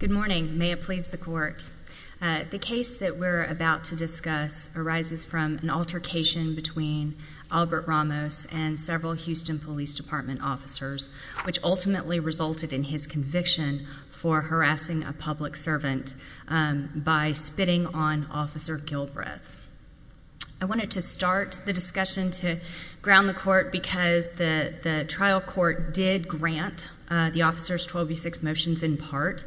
Good morning. May it please the court. The case that we're about to discuss arises from an altercation between Albert Ramos and several Houston Police Department officers, which ultimately resulted in his conviction for harassing a public servant by spitting on Officer Gilbreth. I wanted to start the discussion to ground the court because the trial court did grant the officers 12 v. 6 motions in part.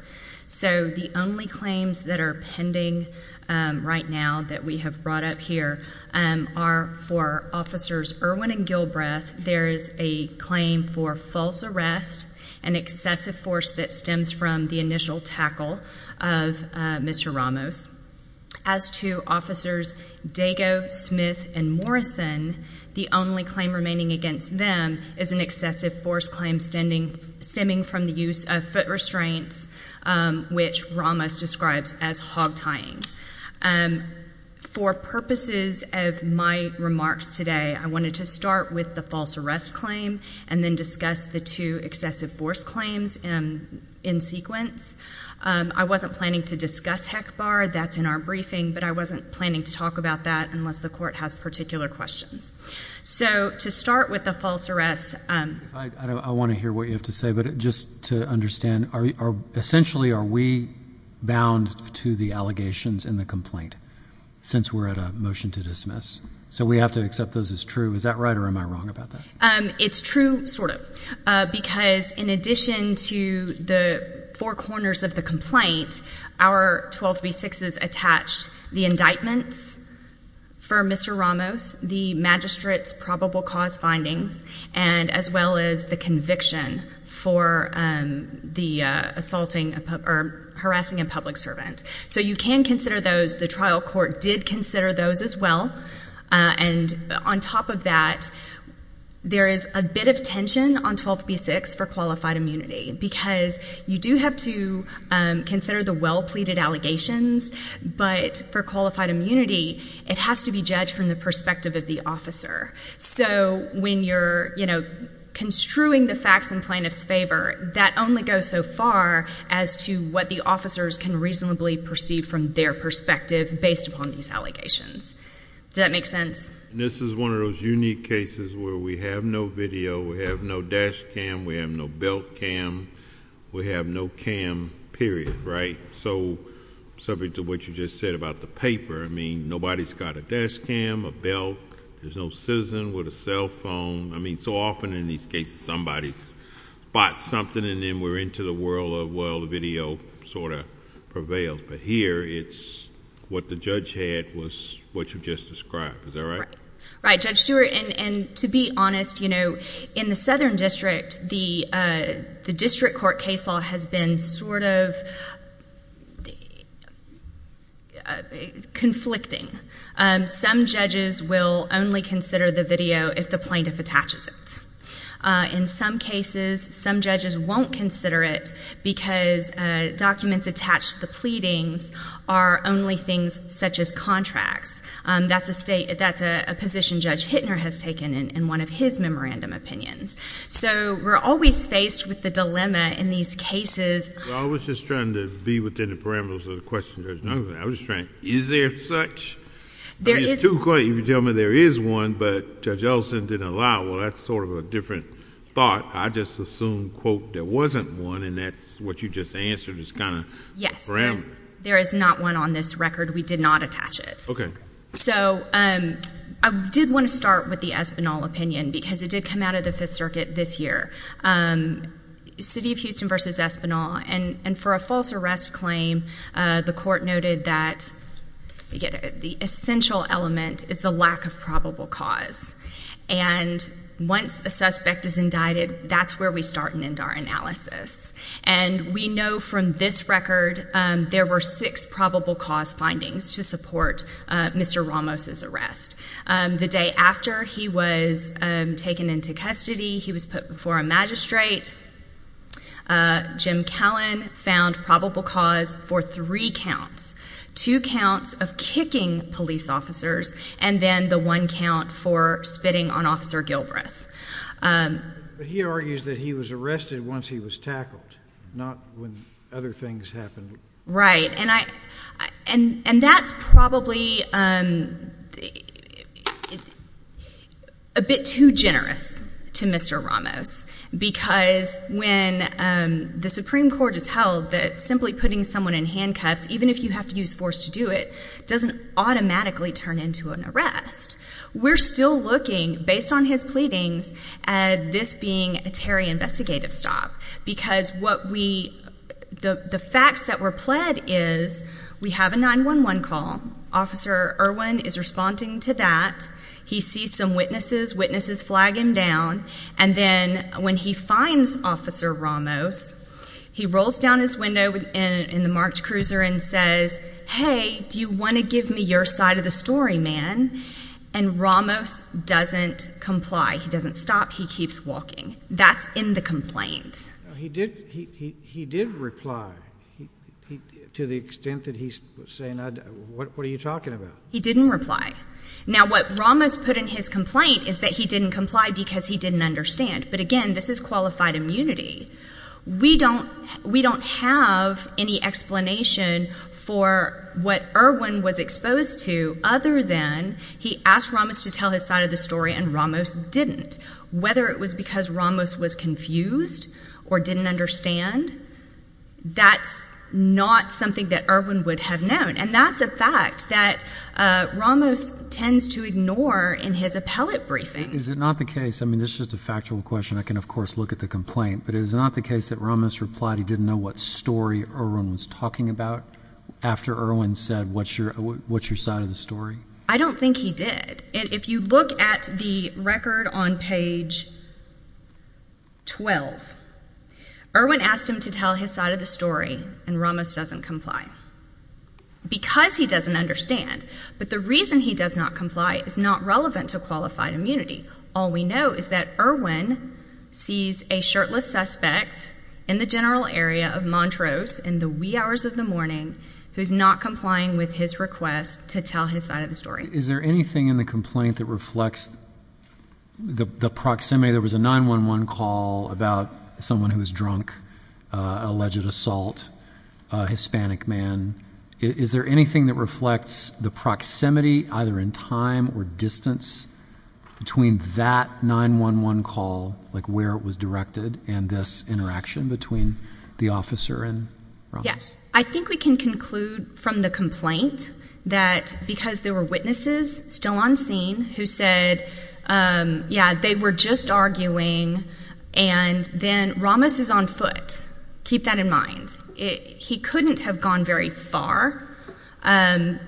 So the only claims that are pending right now that we have brought up here are for Officers Erwin and Gilbreth. There is a claim for false arrest, an excessive force that stems from the initial tackle of Mr. Ramos. As to Officers Dago, Smith, and Morrison, the only claim remaining against them is an excessive force claim stemming from the use of foot restraints, which Ramos describes as hog tying. For purposes of my remarks today, I wanted to start with the false arrest claim and then discuss the two excessive force claims in sequence. I wasn't planning to discuss HECBAR. That's in our briefing. But I wasn't planning to talk about that unless the court has particular questions. So to start with the false arrest... I want to hear what you have to say, but just to understand, essentially are we bound to the allegations in the complaint since we're at a motion to dismiss? So we have to accept those as true. Is that right or am I wrong about that? It's true, sort of, because in addition to the four corners of the complaint, our 12b6s attached the indictments for Mr. Ramos, the magistrate's probable cause findings, and as well as the conviction for the assaulting or harassing a public servant. So you can consider those. The trial court did consider those as well. And on top of that, there is a bit of tension on 12b6 for qualified immunity because you do have to consider the well-pleaded allegations, but for qualified immunity, it has to be judged from the perspective of the officer. So when you're construing the facts in plaintiff's favor, that only goes so far as to what the officers can reasonably perceive from their perspective based upon these allegations. Does that make sense? This is one of those unique cases where we have no video, we have no dash cam, we have no belt cam, we have no cam period, right? So subject to what you just said about the paper, I mean, nobody's got a dash cam, a belt, there's no citizen with a cell phone. I mean, so often in these cases, somebody spots something and then we're into the world of, well, the video sort of prevails. But here, it's what the judge had was what you just described. Is that right? It's sort of conflicting. Some judges will only consider the video if the plaintiff attaches it. In some cases, some judges won't consider it because documents attached to the pleadings are only things such as contracts. That's a position Judge Hittner has taken in one of his memorandum opinions. So we're always faced with the dilemma in these cases. Well, I was just trying to be within the parameters of the question, Judge Nugent. I was just trying to, is there such? There is. I mean, it's too quick. You can tell me there is one, but Judge Ellison didn't allow. Well, that's sort of a different thought. I just assumed, quote, there wasn't one, and that's what you just answered is kind of a parameter. Yes. There is not one on this record. We did not attach it. Okay. So I did want to start with the Espinal opinion because it did come out of the Fifth Circuit this year. City of Houston v. Espinal, and for a false arrest claim, the court noted that the essential element is the lack of probable cause. And once a suspect is indicted, that's where we start and end our analysis. And we know from this record there were six probable cause findings to support Mr. Ramos' arrest. The day after he was taken into custody, he was put before a magistrate. Jim Callen found probable cause for three counts, two counts of kicking police officers and then the one count for spitting on Officer Gilbreth. But he argues that he was arrested once he was tackled, not when other things happened. Right. And that's probably a bit too generous to Mr. Ramos because when the Supreme Court has held that simply putting someone in handcuffs, even if you have to use force to do it, doesn't automatically turn into an arrest. We're still looking, based on his pleadings, at this being a Terry investigative stop because the facts that were pled is we have a 911 call. Officer Irwin is responding to that. He sees some witnesses. Witnesses flag him down. And then when he finds Officer Ramos, he rolls down his window in the March Cruiser and says, hey, do you want to give me your side of the story, man? And Ramos doesn't comply. He doesn't stop. He keeps walking. That's in the complaint. He did reply to the extent that he's saying, what are you talking about? He didn't reply. Now, what Ramos put in his complaint is that he didn't comply because he didn't understand. But again, this is qualified immunity. We don't have any explanation for what Irwin was exposed to other than he asked Ramos to tell his side of the story and Ramos didn't. Whether it was because Ramos was confused or didn't understand, that's not something that Irwin would have known. And that's a fact that Ramos tends to ignore in his appellate briefing. I mean, this is just a factual question. I can, of course, look at the complaint. But is it not the case that Ramos replied he didn't know what story Irwin was talking about after Irwin said, what's your side of the story? I don't think he did. If you look at the record on page 12, Irwin asked him to tell his side of the story and Ramos doesn't comply because he doesn't understand. But the reason he does not comply is not relevant to qualified immunity. All we know is that Irwin sees a shirtless suspect in the general area of Montrose in the wee hours of the morning who's not complying with his request to tell his side of the story. Is there anything in the complaint that reflects the proximity? There was a 9-1-1 call about someone who was drunk, alleged assault, a Hispanic man. Is there anything that reflects the proximity, either in time or distance, between that 9-1-1 call, like where it was directed, and this interaction between the officer and Ramos? Yes. I think we can conclude from the complaint that because there were witnesses still on scene who said, yeah, they were just arguing, and then Ramos is on foot. Keep that in mind. He couldn't have gone very far. The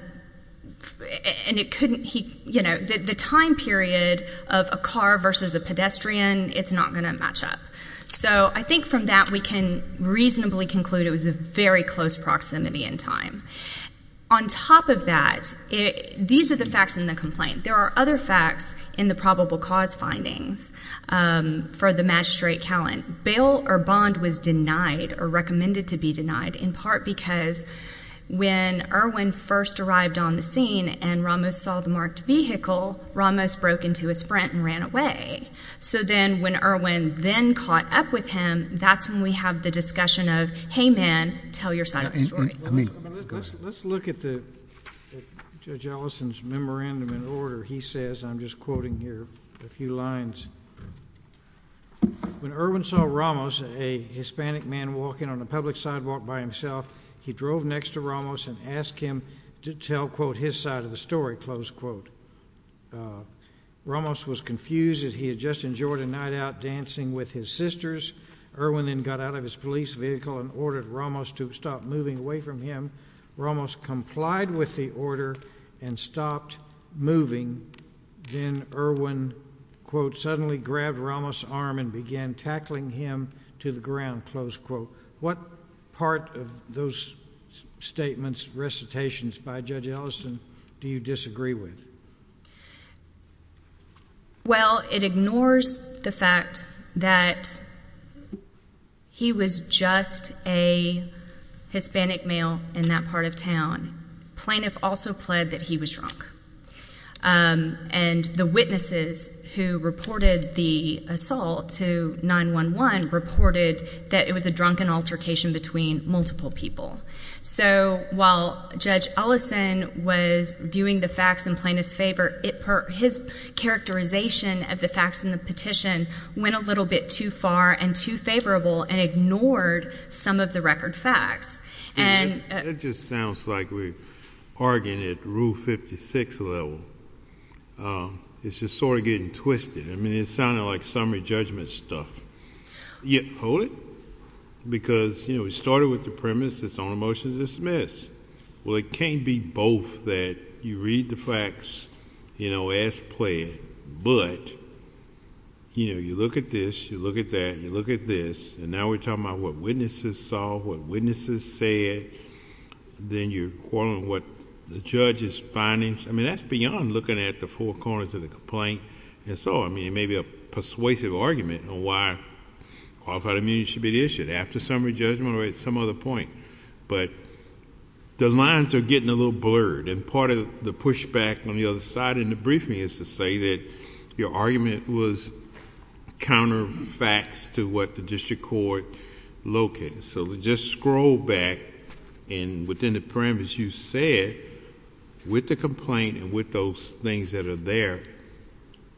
time period of a car versus a pedestrian, it's not going to match up. So I think from that we can reasonably conclude it was a very close proximity in time. On top of that, these are the facts in the complaint. There are other facts in the probable cause findings for the magistrate count. Bail or bond was denied or recommended to be denied in part because when Irwin first arrived on the scene and Ramos saw the marked vehicle, Ramos broke into his front and ran away. So then when Irwin then caught up with him, that's when we have the discussion of, hey, man, tell your side of the story. Let's look at Judge Ellison's memorandum in order. He says, I'm just quoting here a few lines, when Irwin saw Ramos, a Hispanic man, walking on a public sidewalk by himself, he drove next to Ramos and asked him to tell, quote, his side of the story, close quote. Ramos was confused as he had just enjoyed a night out dancing with his sisters. Irwin then got out of his police vehicle and ordered Ramos to stop moving away from him. Ramos complied with the order and stopped moving. And then Irwin, quote, suddenly grabbed Ramos' arm and began tackling him to the ground, close quote. What part of those statements, recitations by Judge Ellison do you disagree with? Well, it ignores the fact that he was just a Hispanic male in that part of town. Plaintiff also pled that he was drunk. And the witnesses who reported the assault to 911 reported that it was a drunken altercation between multiple people. So while Judge Ellison was viewing the facts in plaintiff's favor, his characterization of the facts in the petition went a little bit too far and too favorable and ignored some of the record facts. That just sounds like we're arguing at Rule 56 level. It's just sort of getting twisted. I mean, it's sounding like summary judgment stuff. Hold it. Because, you know, it started with the premise it's on a motion to dismiss. Well, it can't be both that you read the facts, you know, as pled, but, you know, you look at this, you look at that, you look at this, and now we're talking about what witnesses saw, what witnesses said. Then you're quarreling what the judge's findings. I mean, that's beyond looking at the four corners of the complaint. And so, I mean, it may be a persuasive argument on why qualified immunity should be issued after summary judgment or at some other point. But the lines are getting a little blurred. And part of the pushback on the other side in the briefing is to say that your argument was counter facts to what the district court located. So just scroll back and within the premise you said with the complaint and with those things that are there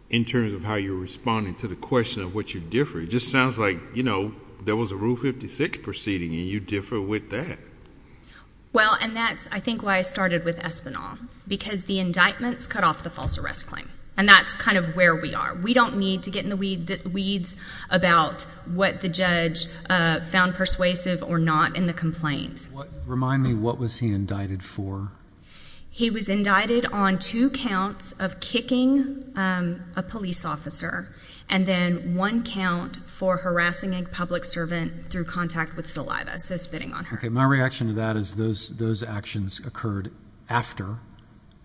in terms of how you're responding to the question of what you differ. It just sounds like, you know, there was a Rule 56 proceeding and you differ with that. Well, and that's, I think, why I started with Espinal. Because the indictments cut off the false arrest claim. And that's kind of where we are. We don't need to get in the weeds about what the judge found persuasive or not in the complaint. Remind me, what was he indicted for? He was indicted on two counts of kicking a police officer and then one count for harassing a public servant through contact with saliva, so spitting on her. Okay, my reaction to that is those actions occurred after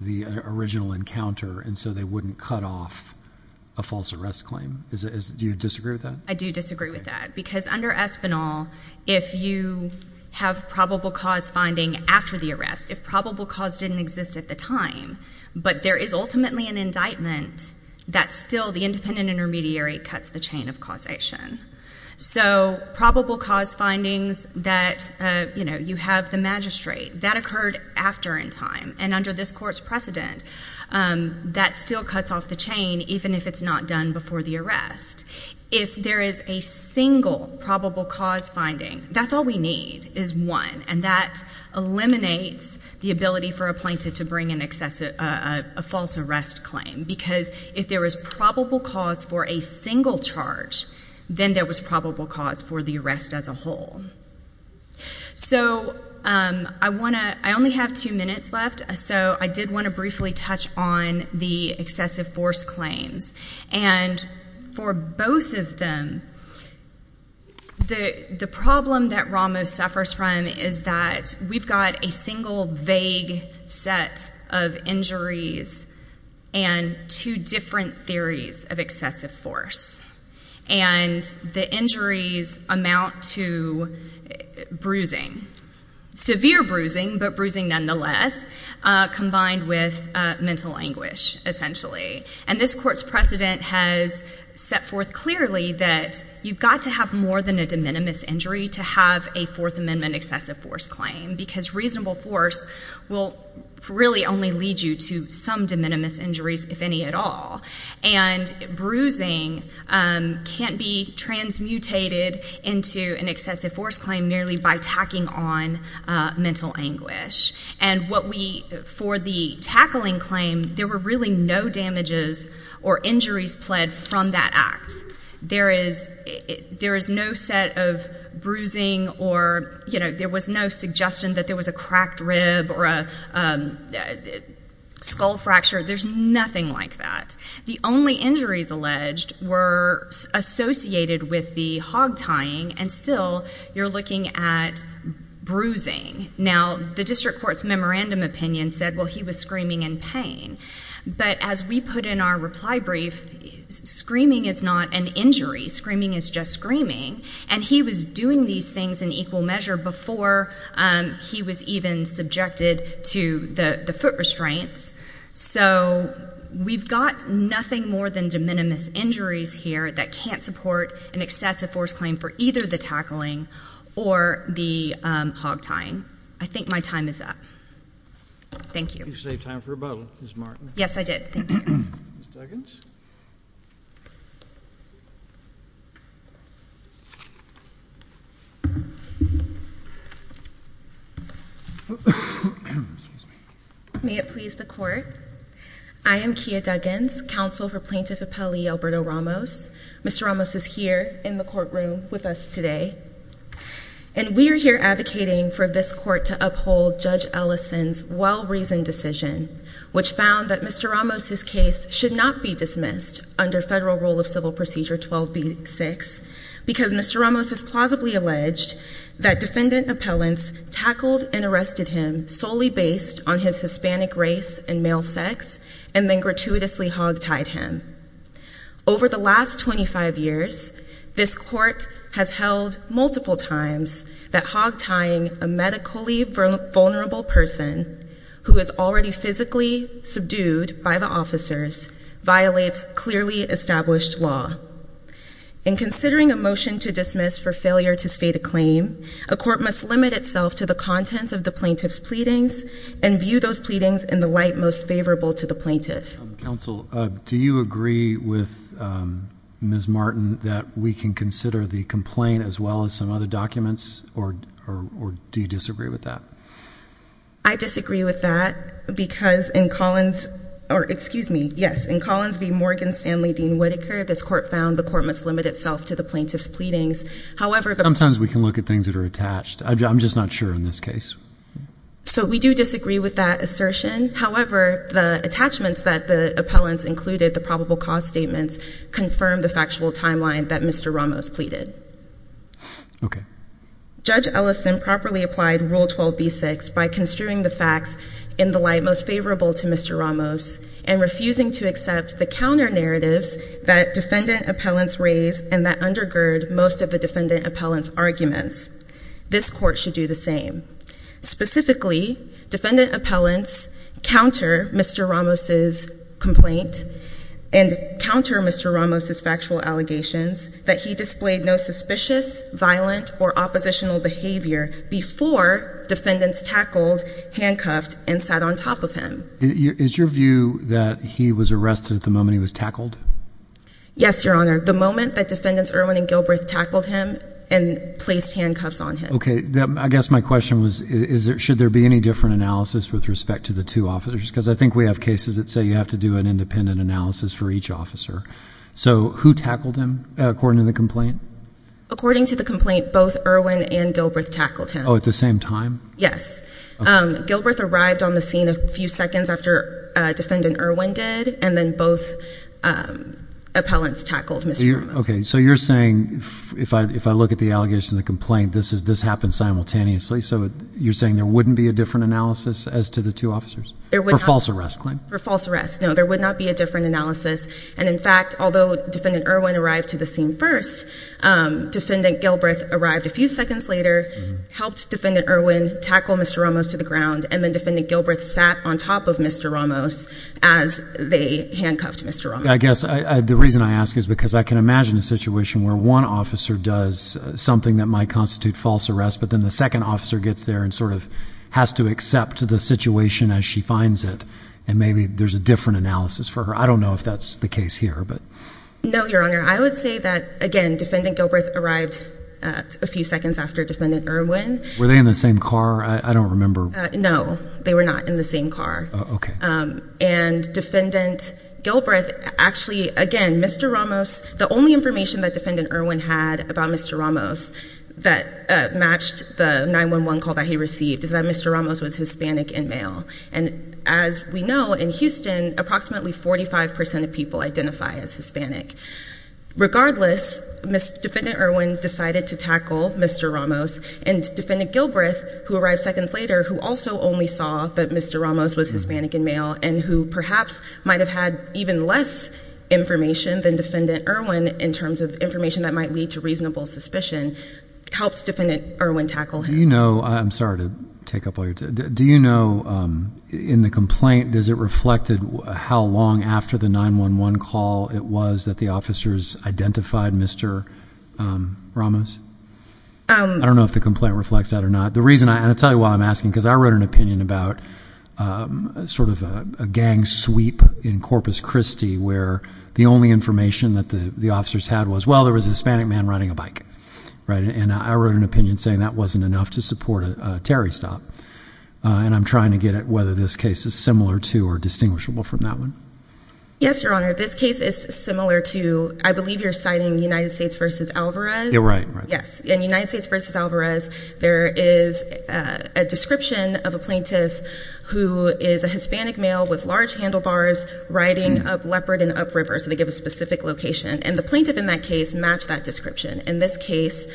the original encounter and so they wouldn't cut off a false arrest claim. Do you disagree with that? I do disagree with that. Because under Espinal, if you have probable cause finding after the arrest, if probable cause didn't exist at the time, but there is ultimately an indictment that still the independent intermediary cuts the chain of causation. So probable cause findings that, you know, you have the magistrate, that occurred after in time. And under this court's precedent, that still cuts off the chain even if it's not done before the arrest. If there is a single probable cause finding, that's all we need is one. And that eliminates the ability for a plaintiff to bring in a false arrest claim. Because if there is probable cause for a single charge, then there was probable cause for the arrest as a whole. So I want to, I only have two minutes left, so I did want to briefly touch on the excessive force claims. And for both of them, the problem that Ramos suffers from is that we've got a single vague set of injuries and two different theories of excessive force. And the injuries amount to bruising. Severe bruising, but bruising nonetheless, combined with mental anguish essentially. And this court's precedent has set forth clearly that you've got to have more than a de minimis injury to have a Fourth Amendment excessive force claim. Because reasonable force will really only lead you to some de minimis injuries, if any at all. And bruising can't be transmutated into an excessive force claim merely by tacking on mental anguish. And what we, for the tackling claim, there were really no damages or injuries pled from that act. There is no set of bruising or, you know, there was no suggestion that there was a cracked rib or a skull fracture. There's nothing like that. The only injuries alleged were associated with the hog tying, and still you're looking at bruising. Now, the district court's memorandum opinion said, well, he was screaming in pain. But as we put in our reply brief, screaming is not an injury. Screaming is just screaming. And he was doing these things in equal measure before he was even subjected to the foot restraints. So we've got nothing more than de minimis injuries here that can't support an excessive force claim for either the tackling or the hog tying. I think my time is up. Thank you. You saved time for a bottle, Ms. Martin. Yes, I did. Thank you. Ms. Duggins? May it please the court? I am Kia Duggins, counsel for Plaintiff Appellee Alberto Ramos. Mr. Ramos is here in the courtroom with us today. And we are here advocating for this court to uphold Judge Ellison's well-reasoned decision, which found that Mr. Ramos's case should not be dismissed under Federal Rule of Civil Procedure 12b-6, because Mr. Ramos has plausibly alleged that defendant appellants tackled and arrested him solely based on his Hispanic race and male sex, and then gratuitously hog tied him. Over the last 25 years, this court has held multiple times that hog tying a medically vulnerable person who is already physically subdued by the officers violates clearly established law. In considering a motion to dismiss for failure to state a claim, a court must limit itself to the contents of the plaintiff's pleadings and view those pleadings in the light most favorable to the plaintiff. Counsel, do you agree with Ms. Martin that we can consider the complaint as well as some other documents, or do you disagree with that? I disagree with that, because in Collins v. Morgan Stanley Dean Whitaker, this court found the court must limit itself to the plaintiff's pleadings. Sometimes we can look at things that are attached. I'm just not sure in this case. So we do disagree with that assertion. However, the attachments that the appellants included, the probable cause statements, confirm the factual timeline that Mr. Ramos pleaded. Okay. Judge Ellison properly applied Rule 12b-6 by construing the facts in the light most favorable to Mr. Ramos and refusing to accept the counter narratives that defendant appellants raise and that undergird most of the defendant appellants' arguments. This court should do the same. Specifically, defendant appellants counter Mr. Ramos' complaint and counter Mr. Ramos' factual allegations that he displayed no suspicious, violent, or oppositional behavior before defendants tackled, handcuffed, and sat on top of him. Is your view that he was arrested at the moment he was tackled? Yes, Your Honor. The moment that defendants Irwin and Gilbreth tackled him and placed handcuffs on him. Okay. I guess my question was, should there be any different analysis with respect to the two officers? Because I think we have cases that say you have to do an independent analysis for each officer. So who tackled him according to the complaint? According to the complaint, both Irwin and Gilbreth tackled him. Oh, at the same time? Yes. Gilbreth arrived on the scene a few seconds after defendant Irwin did, and then both appellants tackled Mr. Ramos. Okay. So you're saying, if I look at the allegations of the complaint, this happened simultaneously. So you're saying there wouldn't be a different analysis as to the two officers? There would not. For false arrest claim? For false arrest. No, there would not be a different analysis. And in fact, although defendant Irwin arrived to the scene first, defendant Gilbreth arrived a few seconds later, helped defendant Irwin tackle Mr. Ramos to the ground, and then defendant Gilbreth sat on top of Mr. Ramos as they handcuffed Mr. Ramos. I guess the reason I ask is because I can imagine a situation where one officer does something that might constitute false arrest, but then the second officer gets there and sort of has to accept the situation as she finds it, and maybe there's a different analysis for her. I don't know if that's the case here. No, Your Honor. I would say that, again, defendant Gilbreth arrived a few seconds after defendant Irwin. Were they in the same car? I don't remember. No, they were not in the same car. Okay. And defendant Gilbreth actually, again, Mr. Ramos, the only information that defendant Irwin had about Mr. Ramos that matched the 911 call that he received is that Mr. Ramos was Hispanic and male. And as we know, in Houston, approximately 45% of people identify as Hispanic. Regardless, defendant Irwin decided to tackle Mr. Ramos, and defendant Gilbreth, who arrived seconds later, who also only saw that Mr. Ramos was Hispanic and male and who perhaps might have had even less information than defendant Irwin in terms of information that might lead to reasonable suspicion, helped defendant Irwin tackle him. I'm sorry to take up all your time. Do you know, in the complaint, does it reflected how long after the 911 call it was that the officers identified Mr. Ramos? I don't know if the complaint reflects that or not. And I'll tell you why I'm asking, because I wrote an opinion about sort of a gang sweep in Corpus Christi where the only information that the officers had was, well, there was a Hispanic man riding a bike. And I wrote an opinion saying that wasn't enough to support a Terry stop. And I'm trying to get at whether this case is similar to or distinguishable from that one. Yes, Your Honor. This case is similar to, I believe you're citing United States v. Alvarez. You're right. Yes. In United States v. Alvarez, there is a description of a plaintiff who is a Hispanic male with large handlebars riding up Leopard and up River. So they give a specific location. And the plaintiff in that case matched that description. And this case,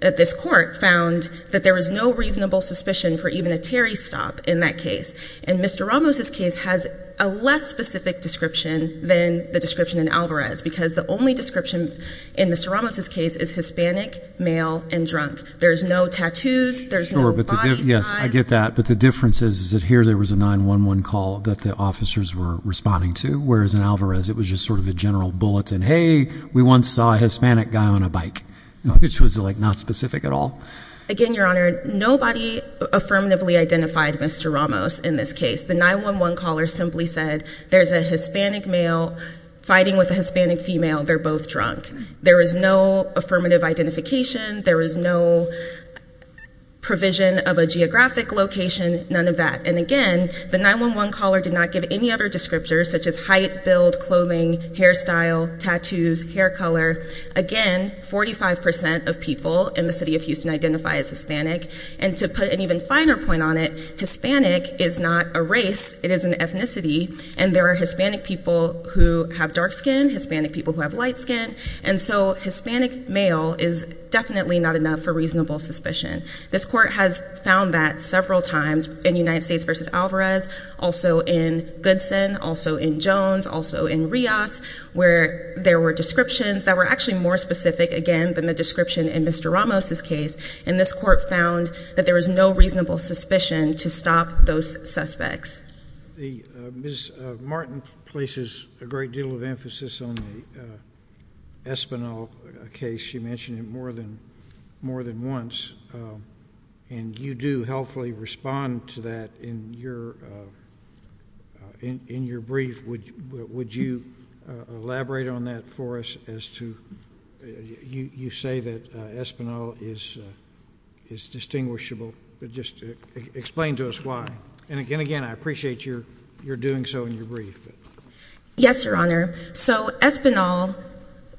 this court found that there was no reasonable suspicion for even a Terry stop in that case. And Mr. Ramos' case has a less specific description than the description in Alvarez, because the only description in Mr. Ramos' case is Hispanic, male, and drunk. There's no tattoos. There's no body size. Yes, I get that. But the difference is that here there was a 911 call that the officers were responding to, whereas in Alvarez it was just sort of a general bulletin. Hey, we once saw a Hispanic guy on a bike, which was like not specific at all. Again, Your Honor, nobody affirmatively identified Mr. Ramos in this case. The 911 caller simply said there's a Hispanic male fighting with a Hispanic female. They're both drunk. There was no affirmative identification. There was no provision of a geographic location, none of that. And again, the 911 caller did not give any other descriptors such as height, build, clothing, hairstyle, tattoos, hair color. Again, 45 percent of people in the city of Houston identify as Hispanic. And to put an even finer point on it, Hispanic is not a race. It is an ethnicity. And there are Hispanic people who have dark skin, Hispanic people who have light skin. And so Hispanic male is definitely not enough for reasonable suspicion. This court has found that several times in United States v. Alvarez, also in Goodson, also in Jones, also in Rios, where there were descriptions that were actually more specific, again, than the description in Mr. Ramos' case. And this court found that there was no reasonable suspicion to stop those suspects. Ms. Martin places a great deal of emphasis on the Espinel case. She mentioned it more than once. And you do helpfully respond to that in your brief. Would you elaborate on that for us as to you say that Espinel is distinguishable? Just explain to us why. And again, I appreciate your doing so in your brief. Yes, Your Honor. So Espinel,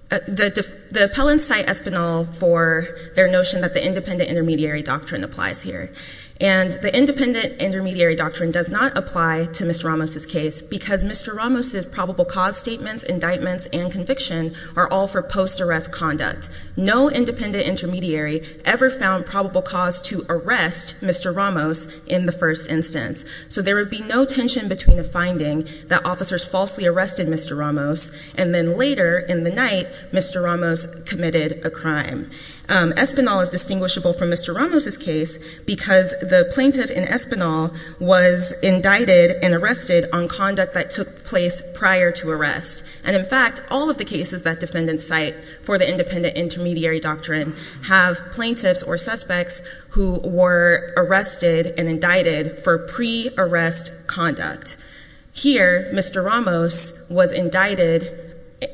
the appellants cite Espinel for their notion that the independent intermediary doctrine applies here. And the independent intermediary doctrine does not apply to Mr. Ramos' case because Mr. Ramos' probable cause statements, indictments, and conviction are all for post-arrest conduct. No independent intermediary ever found probable cause to arrest Mr. Ramos in the first instance. So there would be no tension between a finding that officers falsely arrested Mr. Ramos, and then later in the night, Mr. Ramos committed a crime. Espinel is distinguishable from Mr. Ramos' case because the plaintiff in Espinel was indicted and arrested on conduct that took place prior to arrest. And in fact, all of the cases that defendants cite for the independent intermediary doctrine have plaintiffs or suspects who were arrested and indicted for pre-arrest conduct. Here, Mr. Ramos was indicted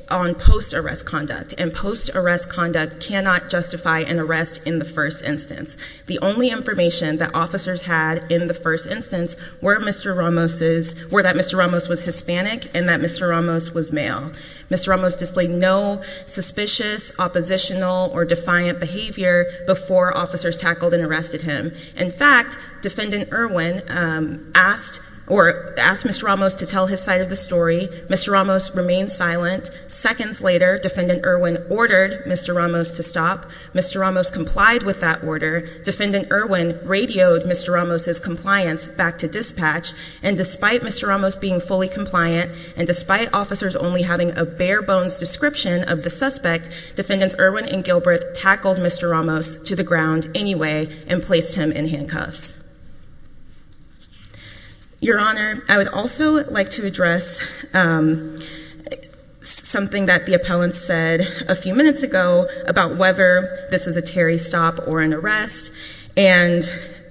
on post-arrest conduct, and post-arrest conduct cannot justify an arrest in the first instance. The only information that officers had in the first instance were that Mr. Ramos was Hispanic and that Mr. Ramos was male. Mr. Ramos displayed no suspicious, oppositional, or defiant behavior before officers tackled and arrested him. In fact, Defendant Irwin asked Mr. Ramos to tell his side of the story. Mr. Ramos remained silent. Seconds later, Defendant Irwin ordered Mr. Ramos to stop. Mr. Ramos complied with that order. Defendant Irwin radioed Mr. Ramos' compliance back to dispatch, and despite Mr. Ramos being fully compliant and despite officers only having a bare-bones description of the suspect, Defendants Irwin and Gilbert tackled Mr. Ramos to the ground anyway and placed him in handcuffs. Your Honor, I would also like to address something that the appellant said a few minutes ago about whether this is a Terry stop or an arrest, and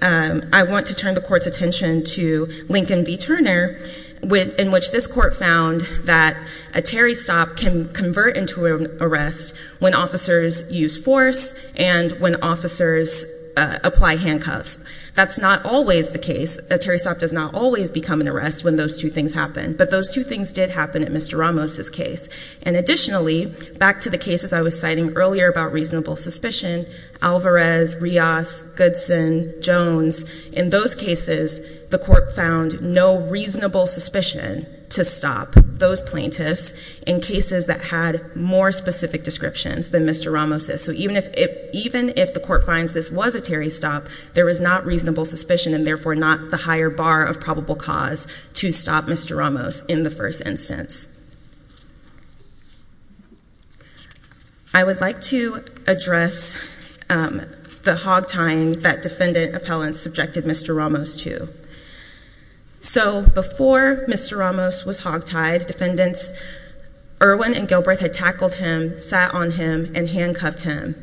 I want to turn the Court's attention to Lincoln v. Turner, in which this Court found that a Terry stop can convert into an arrest when officers use force and when officers apply handcuffs. That's not always the case. A Terry stop does not always become an arrest when those two things happen, but those two things did happen in Mr. Ramos' case. And additionally, back to the cases I was citing earlier about reasonable suspicion, Alvarez, Rios, Goodson, Jones, in those cases, the Court found no reasonable suspicion to stop those plaintiffs in cases that had more specific descriptions than Mr. Ramos' So even if the Court finds this was a Terry stop, there was not reasonable suspicion and therefore not the higher bar of probable cause to stop Mr. Ramos in the first instance. I would like to address the hog-tying that Defendant Appellants subjected Mr. Ramos to. So before Mr. Ramos was hog-tied, Defendants Irwin and Gilbreth had tackled him, sat on him, and handcuffed him.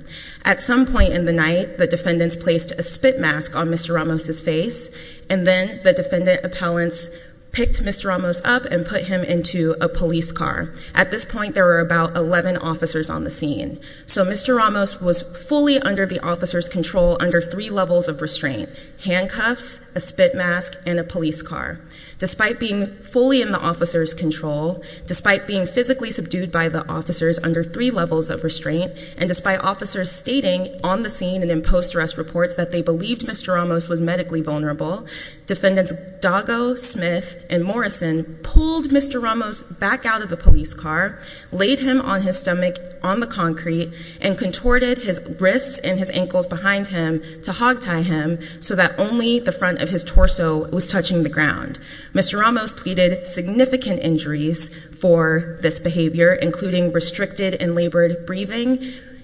At some point in the night, the Defendants placed a spit mask on Mr. Ramos' face, and then the Defendant Appellants picked Mr. Ramos up and put him into a police car. At this point, there were about 11 officers on the scene. So Mr. Ramos was fully under the officers' control under three levels of restraint, handcuffs, a spit mask, and a police car. Despite being fully in the officers' control, despite being physically subdued by the officers under three levels of restraint, and despite officers stating on the scene and in post-arrest reports that they believed Mr. Ramos was medically vulnerable, Defendants Doggo, Smith, and Morrison pulled Mr. Ramos back out of the police car, laid him on his stomach on the concrete, and contorted his wrists and his ankles behind him to hog-tie him so that only the front of his torso was touching the ground. Mr. Ramos pleaded significant injuries for this behavior, including restricted and labored breathing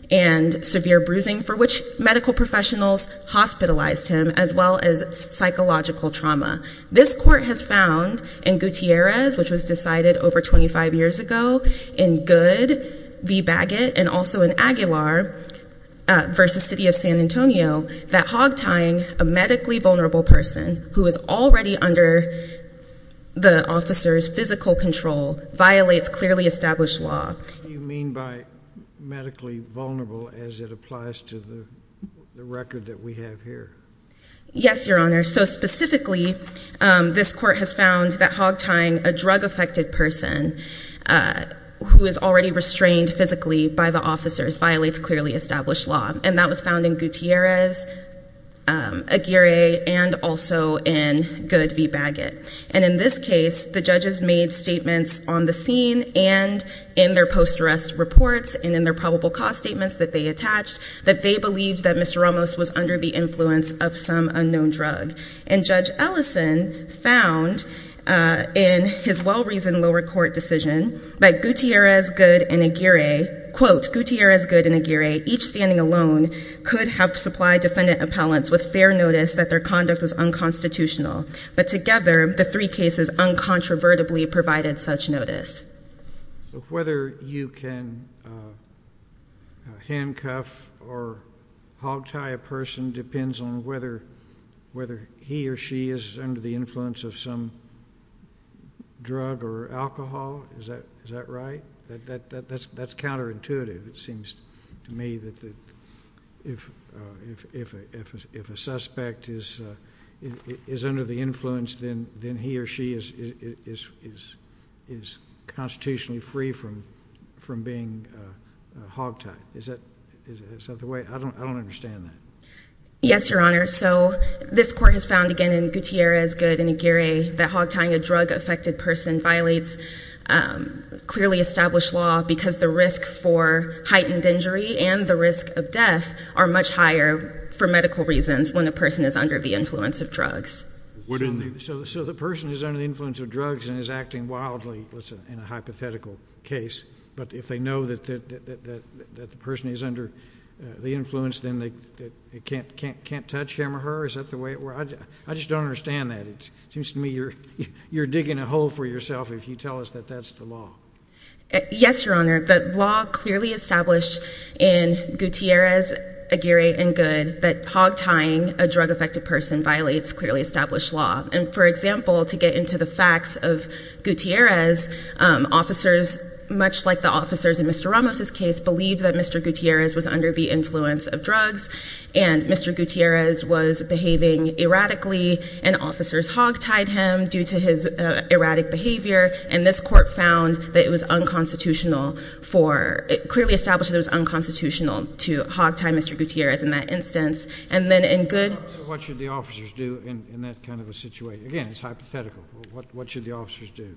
and severe bruising, for which medical professionals hospitalized him, as well as psychological trauma. This court has found in Gutierrez, which was decided over 25 years ago, in Good v. Baggett, and also in Aguilar v. City of San Antonio, that hog-tying a medically vulnerable person who is already under the officers' physical control violates clearly established law. What do you mean by medically vulnerable as it applies to the record that we have here? Yes, Your Honor. So specifically, this court has found that hog-tying a drug-affected person who is already restrained physically by the officers violates clearly established law, and that was found in Gutierrez, Aguirre, and also in Good v. Baggett. And in this case, the judges made statements on the scene and in their post-arrest reports and in their probable cause statements that they attached that they believed that Mr. Ramos was under the influence of some unknown drug. And Judge Ellison found in his well-reasoned lower court decision that Gutierrez, Good, and Aguirre, quote, Gutierrez, Good, and Aguirre, each standing alone, could have supplied defendant appellants with fair notice that their conduct was unconstitutional. But together, the three cases uncontrovertibly provided such notice. So whether you can handcuff or hog-tie a person depends on whether he or she is under the influence of some drug or alcohol, is that right? That's counterintuitive. It seems to me that if a suspect is under the influence, then he or she is constitutionally free from being hog-tied. Is that the way? I don't understand that. Yes, Your Honor. So this court has found, again, in Gutierrez, Good, and Aguirre, that hog-tying a drug-affected person violates clearly established law because the risk for heightened injury and the risk of death are much higher for medical reasons when a person is under the influence of drugs. So the person is under the influence of drugs and is acting wildly in a hypothetical case, but if they know that the person is under the influence, then they can't touch him or her? Is that the way it works? I just don't understand that. It seems to me you're digging a hole for yourself if you tell us that that's the law. Yes, Your Honor. The law clearly established in Gutierrez, Aguirre, and Good that hog-tying a drug-affected person violates clearly established law. And, for example, to get into the facts of Gutierrez, officers, much like the officers in Mr. Ramos's case, believed that Mr. Gutierrez was under the influence of drugs and Mr. Gutierrez was behaving erratically and officers hog-tied him due to his erratic behavior, and this court found that it was unconstitutional for – it clearly established that it was unconstitutional to hog-tie Mr. Gutierrez in that instance. And then in Good – So what should the officers do in that kind of a situation? Again, it's hypothetical. What should the officers do?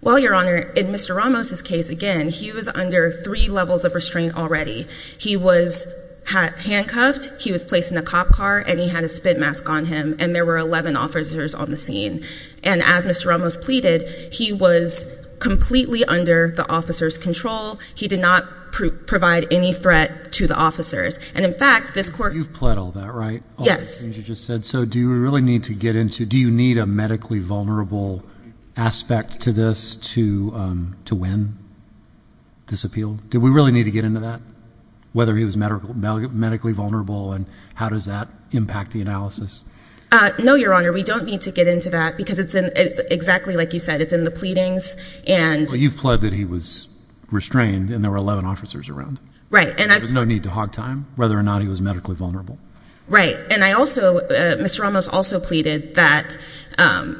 Well, Your Honor, in Mr. Ramos's case, again, he was under three levels of restraint already. He was handcuffed, he was placed in a cop car, and he had a spit mask on him, and there were 11 officers on the scene. And as Mr. Ramos pleaded, he was completely under the officers' control. He did not provide any threat to the officers. And, in fact, this court – You've pled all that, right? Yes. All the things you just said. So do you really need to get into – do you need a medically vulnerable aspect to this to win this appeal? Do we really need to get into that, whether he was medically vulnerable and how does that impact the analysis? No, Your Honor. We don't need to get into that because it's in – exactly like you said, it's in the pleadings and – Well, you've pled that he was restrained and there were 11 officers around. Right, and I – There was no need to hog-tie him, whether or not he was medically vulnerable. Right. And I also – Mr. Ramos also pleaded that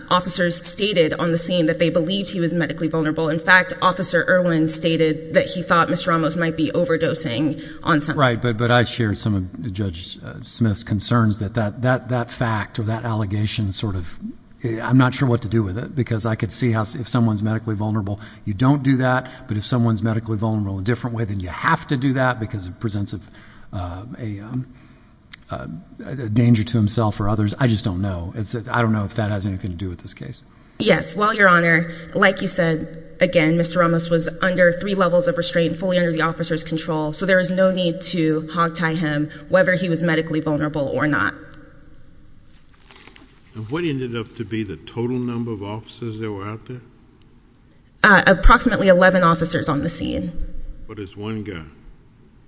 officers stated on the scene that they believed he was medically vulnerable. In fact, Officer Irwin stated that he thought Mr. Ramos might be overdosing on something. Right, but I shared some of Judge Smith's concerns that that fact or that allegation sort of – I'm not sure what to do with it because I could see how if someone's medically vulnerable, you don't do that. But if someone's medically vulnerable in a different way, then you have to do that because it presents a danger to himself or others. I just don't know. I don't know if that has anything to do with this case. Yes. Well, Your Honor, like you said, again, Mr. Ramos was under three levels of restraint, fully under the officer's control, so there was no need to hog-tie him, whether he was medically vulnerable or not. And what ended up to be the total number of officers that were out there? Approximately 11 officers on the scene. But it's one guy.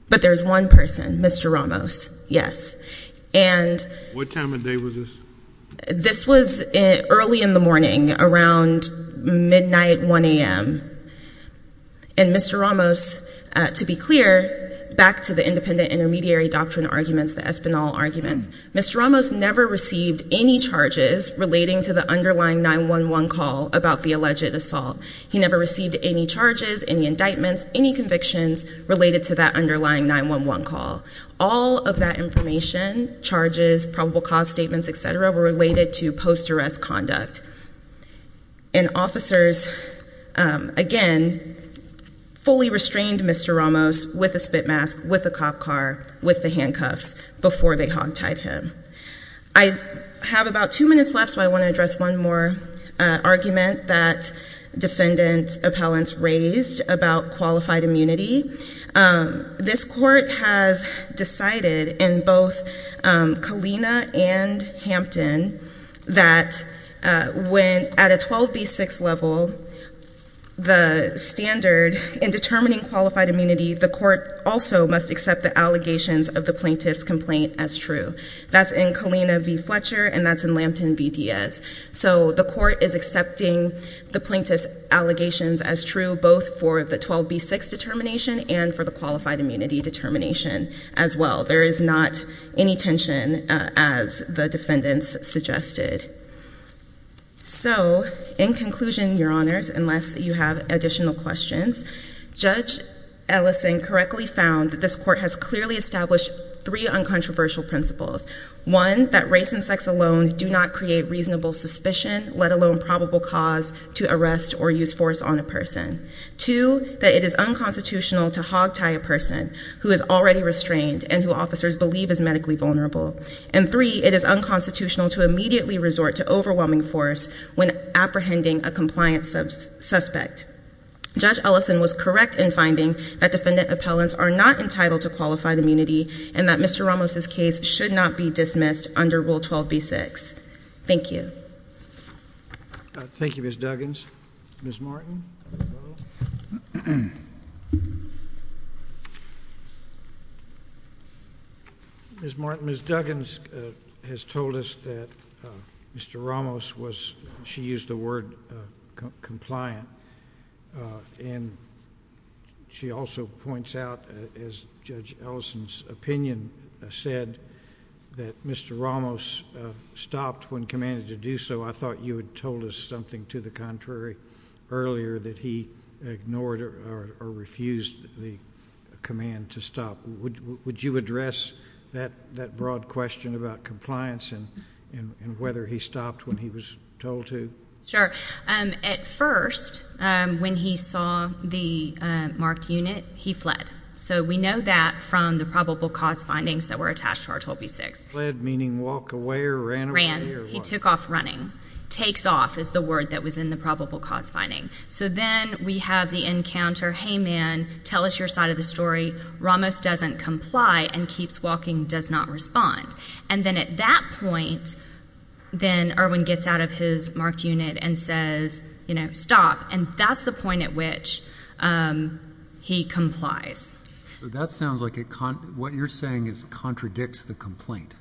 But there's one person, Mr. Ramos, yes. What time of day was this? This was early in the morning, around midnight, 1 a.m. And Mr. Ramos, to be clear, back to the independent intermediary doctrine arguments, the Espinal arguments, Mr. Ramos never received any charges relating to the underlying 911 call about the alleged assault. He never received any charges, any indictments, any convictions related to that underlying 911 call. All of that information, charges, probable cause statements, et cetera, were related to post-arrest conduct. And officers, again, fully restrained Mr. Ramos with a spit mask, with a cop car, with the handcuffs before they hog-tied him. I have about two minutes left, so I want to address one more argument that defendant appellants raised about qualified immunity. This court has decided in both Kalina and Hampton that at a 12B6 level, the standard in determining qualified immunity, the court also must accept the allegations of the plaintiff's complaint as true. That's in Kalina v. Fletcher, and that's in Lampton v. Diaz. So the court is accepting the plaintiff's allegations as true, both for the 12B6 determination and for the qualified immunity determination as well. There is not any tension, as the defendants suggested. So, in conclusion, Your Honors, unless you have additional questions, Judge Ellison correctly found that this court has clearly established three uncontroversial principles. One, that race and sex alone do not create reasonable suspicion, let alone probable cause to arrest or use force on a person. Two, that it is unconstitutional to hog-tie a person who is already restrained and who officers believe is medically vulnerable. And three, it is unconstitutional to immediately resort to overwhelming force when apprehending a compliance suspect. Judge Ellison was correct in finding that defendant appellants are not entitled to qualified immunity and that Mr. Ramos' case should not be dismissed under Rule 12B6. Thank you. Thank you, Ms. Duggins. Ms. Martin? Ms. Martin, Ms. Duggins has told us that Mr. Ramos, she used the word compliant, and she also points out, as Judge Ellison's opinion said, that Mr. Ramos stopped when commanded to do so. I thought you had told us something to the contrary earlier, that he ignored or refused the command to stop. Would you address that broad question about compliance and whether he stopped when he was told to? Sure. At first, when he saw the marked unit, he fled. So we know that from the probable cause findings that were attached to R12B6. Fled, meaning walk away or ran away? He took off running. Takes off is the word that was in the probable cause finding. So then we have the encounter, hey, man, tell us your side of the story. Ramos doesn't comply and keeps walking, does not respond. And then at that point, then Erwin gets out of his marked unit and says, you know, stop. And that's the point at which he complies. So that sounds like what you're saying is contradicts the complaint.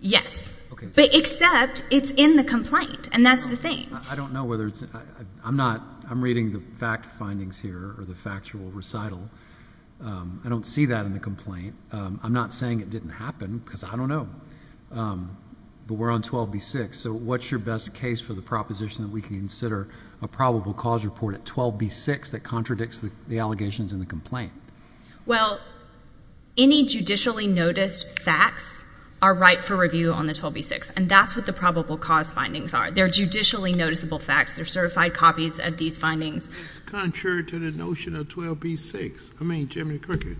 Yes. Except it's in the complaint, and that's the thing. I don't know whether it's – I'm not – I'm reading the fact findings here or the factual recital. I don't see that in the complaint. I'm not saying it didn't happen because I don't know. But we're on 12B6. So what's your best case for the proposition that we can consider a probable cause report at 12B6 that contradicts the allegations in the complaint? Well, any judicially noticed facts are right for review on the 12B6. And that's what the probable cause findings are. They're judicially noticeable facts. They're certified copies of these findings. It's contrary to the notion of 12B6. I mean, Jimmy Cricket,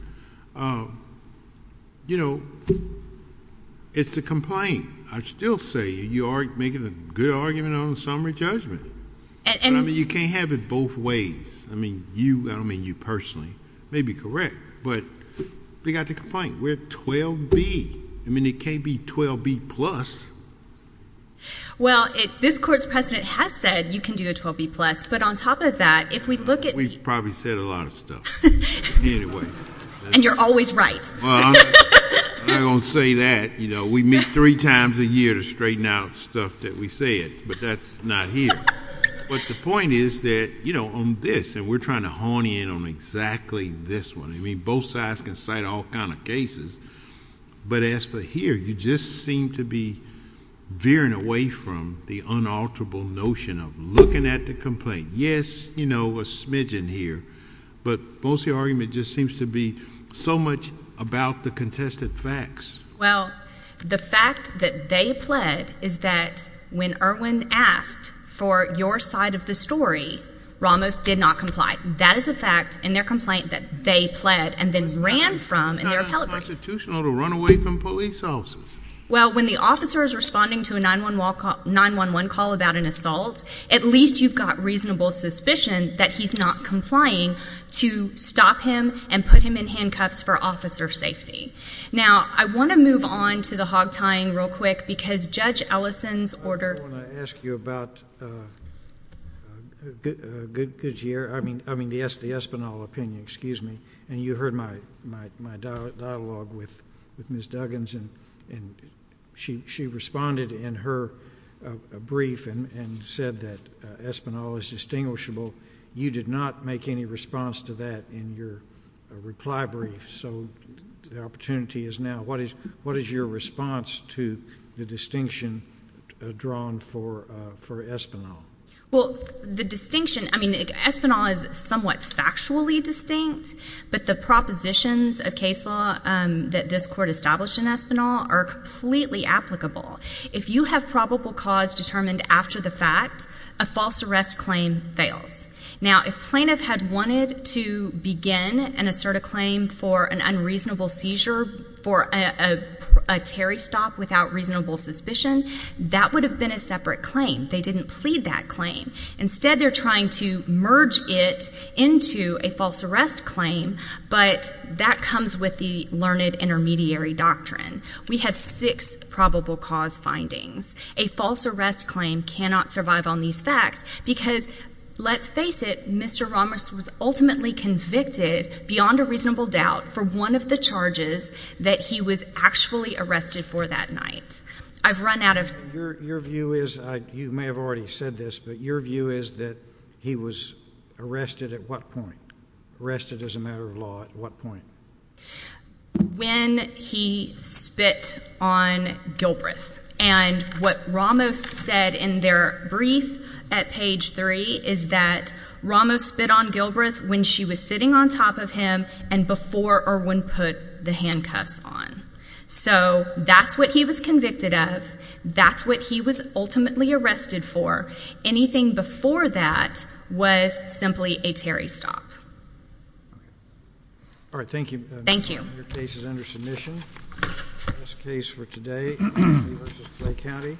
you know, it's the complaint. I still say you are making a good argument on the summary judgment. But, I mean, you can't have it both ways. I mean, you – I don't mean you personally. It may be correct, but we've got the complaint. We're at 12B. I mean, it can't be 12B+. Well, this Court's precedent has said you can do a 12B+, but on top of that, if we look at the – We've probably said a lot of stuff anyway. And you're always right. I don't say that. You know, we meet three times a year to straighten out stuff that we say, but that's not here. But the point is that, you know, on this, and we're trying to hone in on exactly this one. I mean, both sides can cite all kind of cases. But as for here, you just seem to be veering away from the unalterable notion of looking at the complaint. Yes, you know, a smidgen here, but most of your argument just seems to be so much about the contested facts. Well, the fact that they pled is that when Irwin asked for your side of the story, Ramos did not comply. That is a fact in their complaint that they pled and then ran from in their calibration. It's not unconstitutional to run away from police officers. Well, when the officer is responding to a 911 call about an assault, at least you've got reasonable suspicion that he's not complying to stop him and put him in handcuffs for officer safety. Now, I want to move on to the hog tying real quick because Judge Ellison's order. I want to ask you about the Espinal opinion, and you heard my dialogue with Ms. Duggans, and she responded in her brief and said that Espinal is distinguishable. You did not make any response to that in your reply brief. So the opportunity is now. What is your response to the distinction drawn for Espinal? Well, the distinction, I mean, Espinal is somewhat factually distinct, but the propositions of case law that this court established in Espinal are completely applicable. If you have probable cause determined after the fact, a false arrest claim fails. Now, if plaintiff had wanted to begin and assert a claim for an unreasonable seizure for a Terry stop without reasonable suspicion, that would have been a separate claim. They didn't plead that claim. Instead, they're trying to merge it into a false arrest claim, but that comes with the learned intermediary doctrine. We have six probable cause findings. A false arrest claim cannot survive on these facts because, let's face it, Mr. Rommers was ultimately convicted, beyond a reasonable doubt, for one of the charges that he was actually arrested for that night. I've run out of— Your view is—you may have already said this, but your view is that he was arrested at what point? Arrested as a matter of law at what point? When he spit on Gilbreth, and what Rommers said in their brief at page three is that Rommers spit on Gilbreth when she was sitting on top of him and before Irwin put the handcuffs on. So that's what he was convicted of. That's what he was ultimately arrested for. Anything before that was simply a Terry stop. All right. Thank you. Thank you. Your case is under submission. That's the case for today, Lee v. Clay County.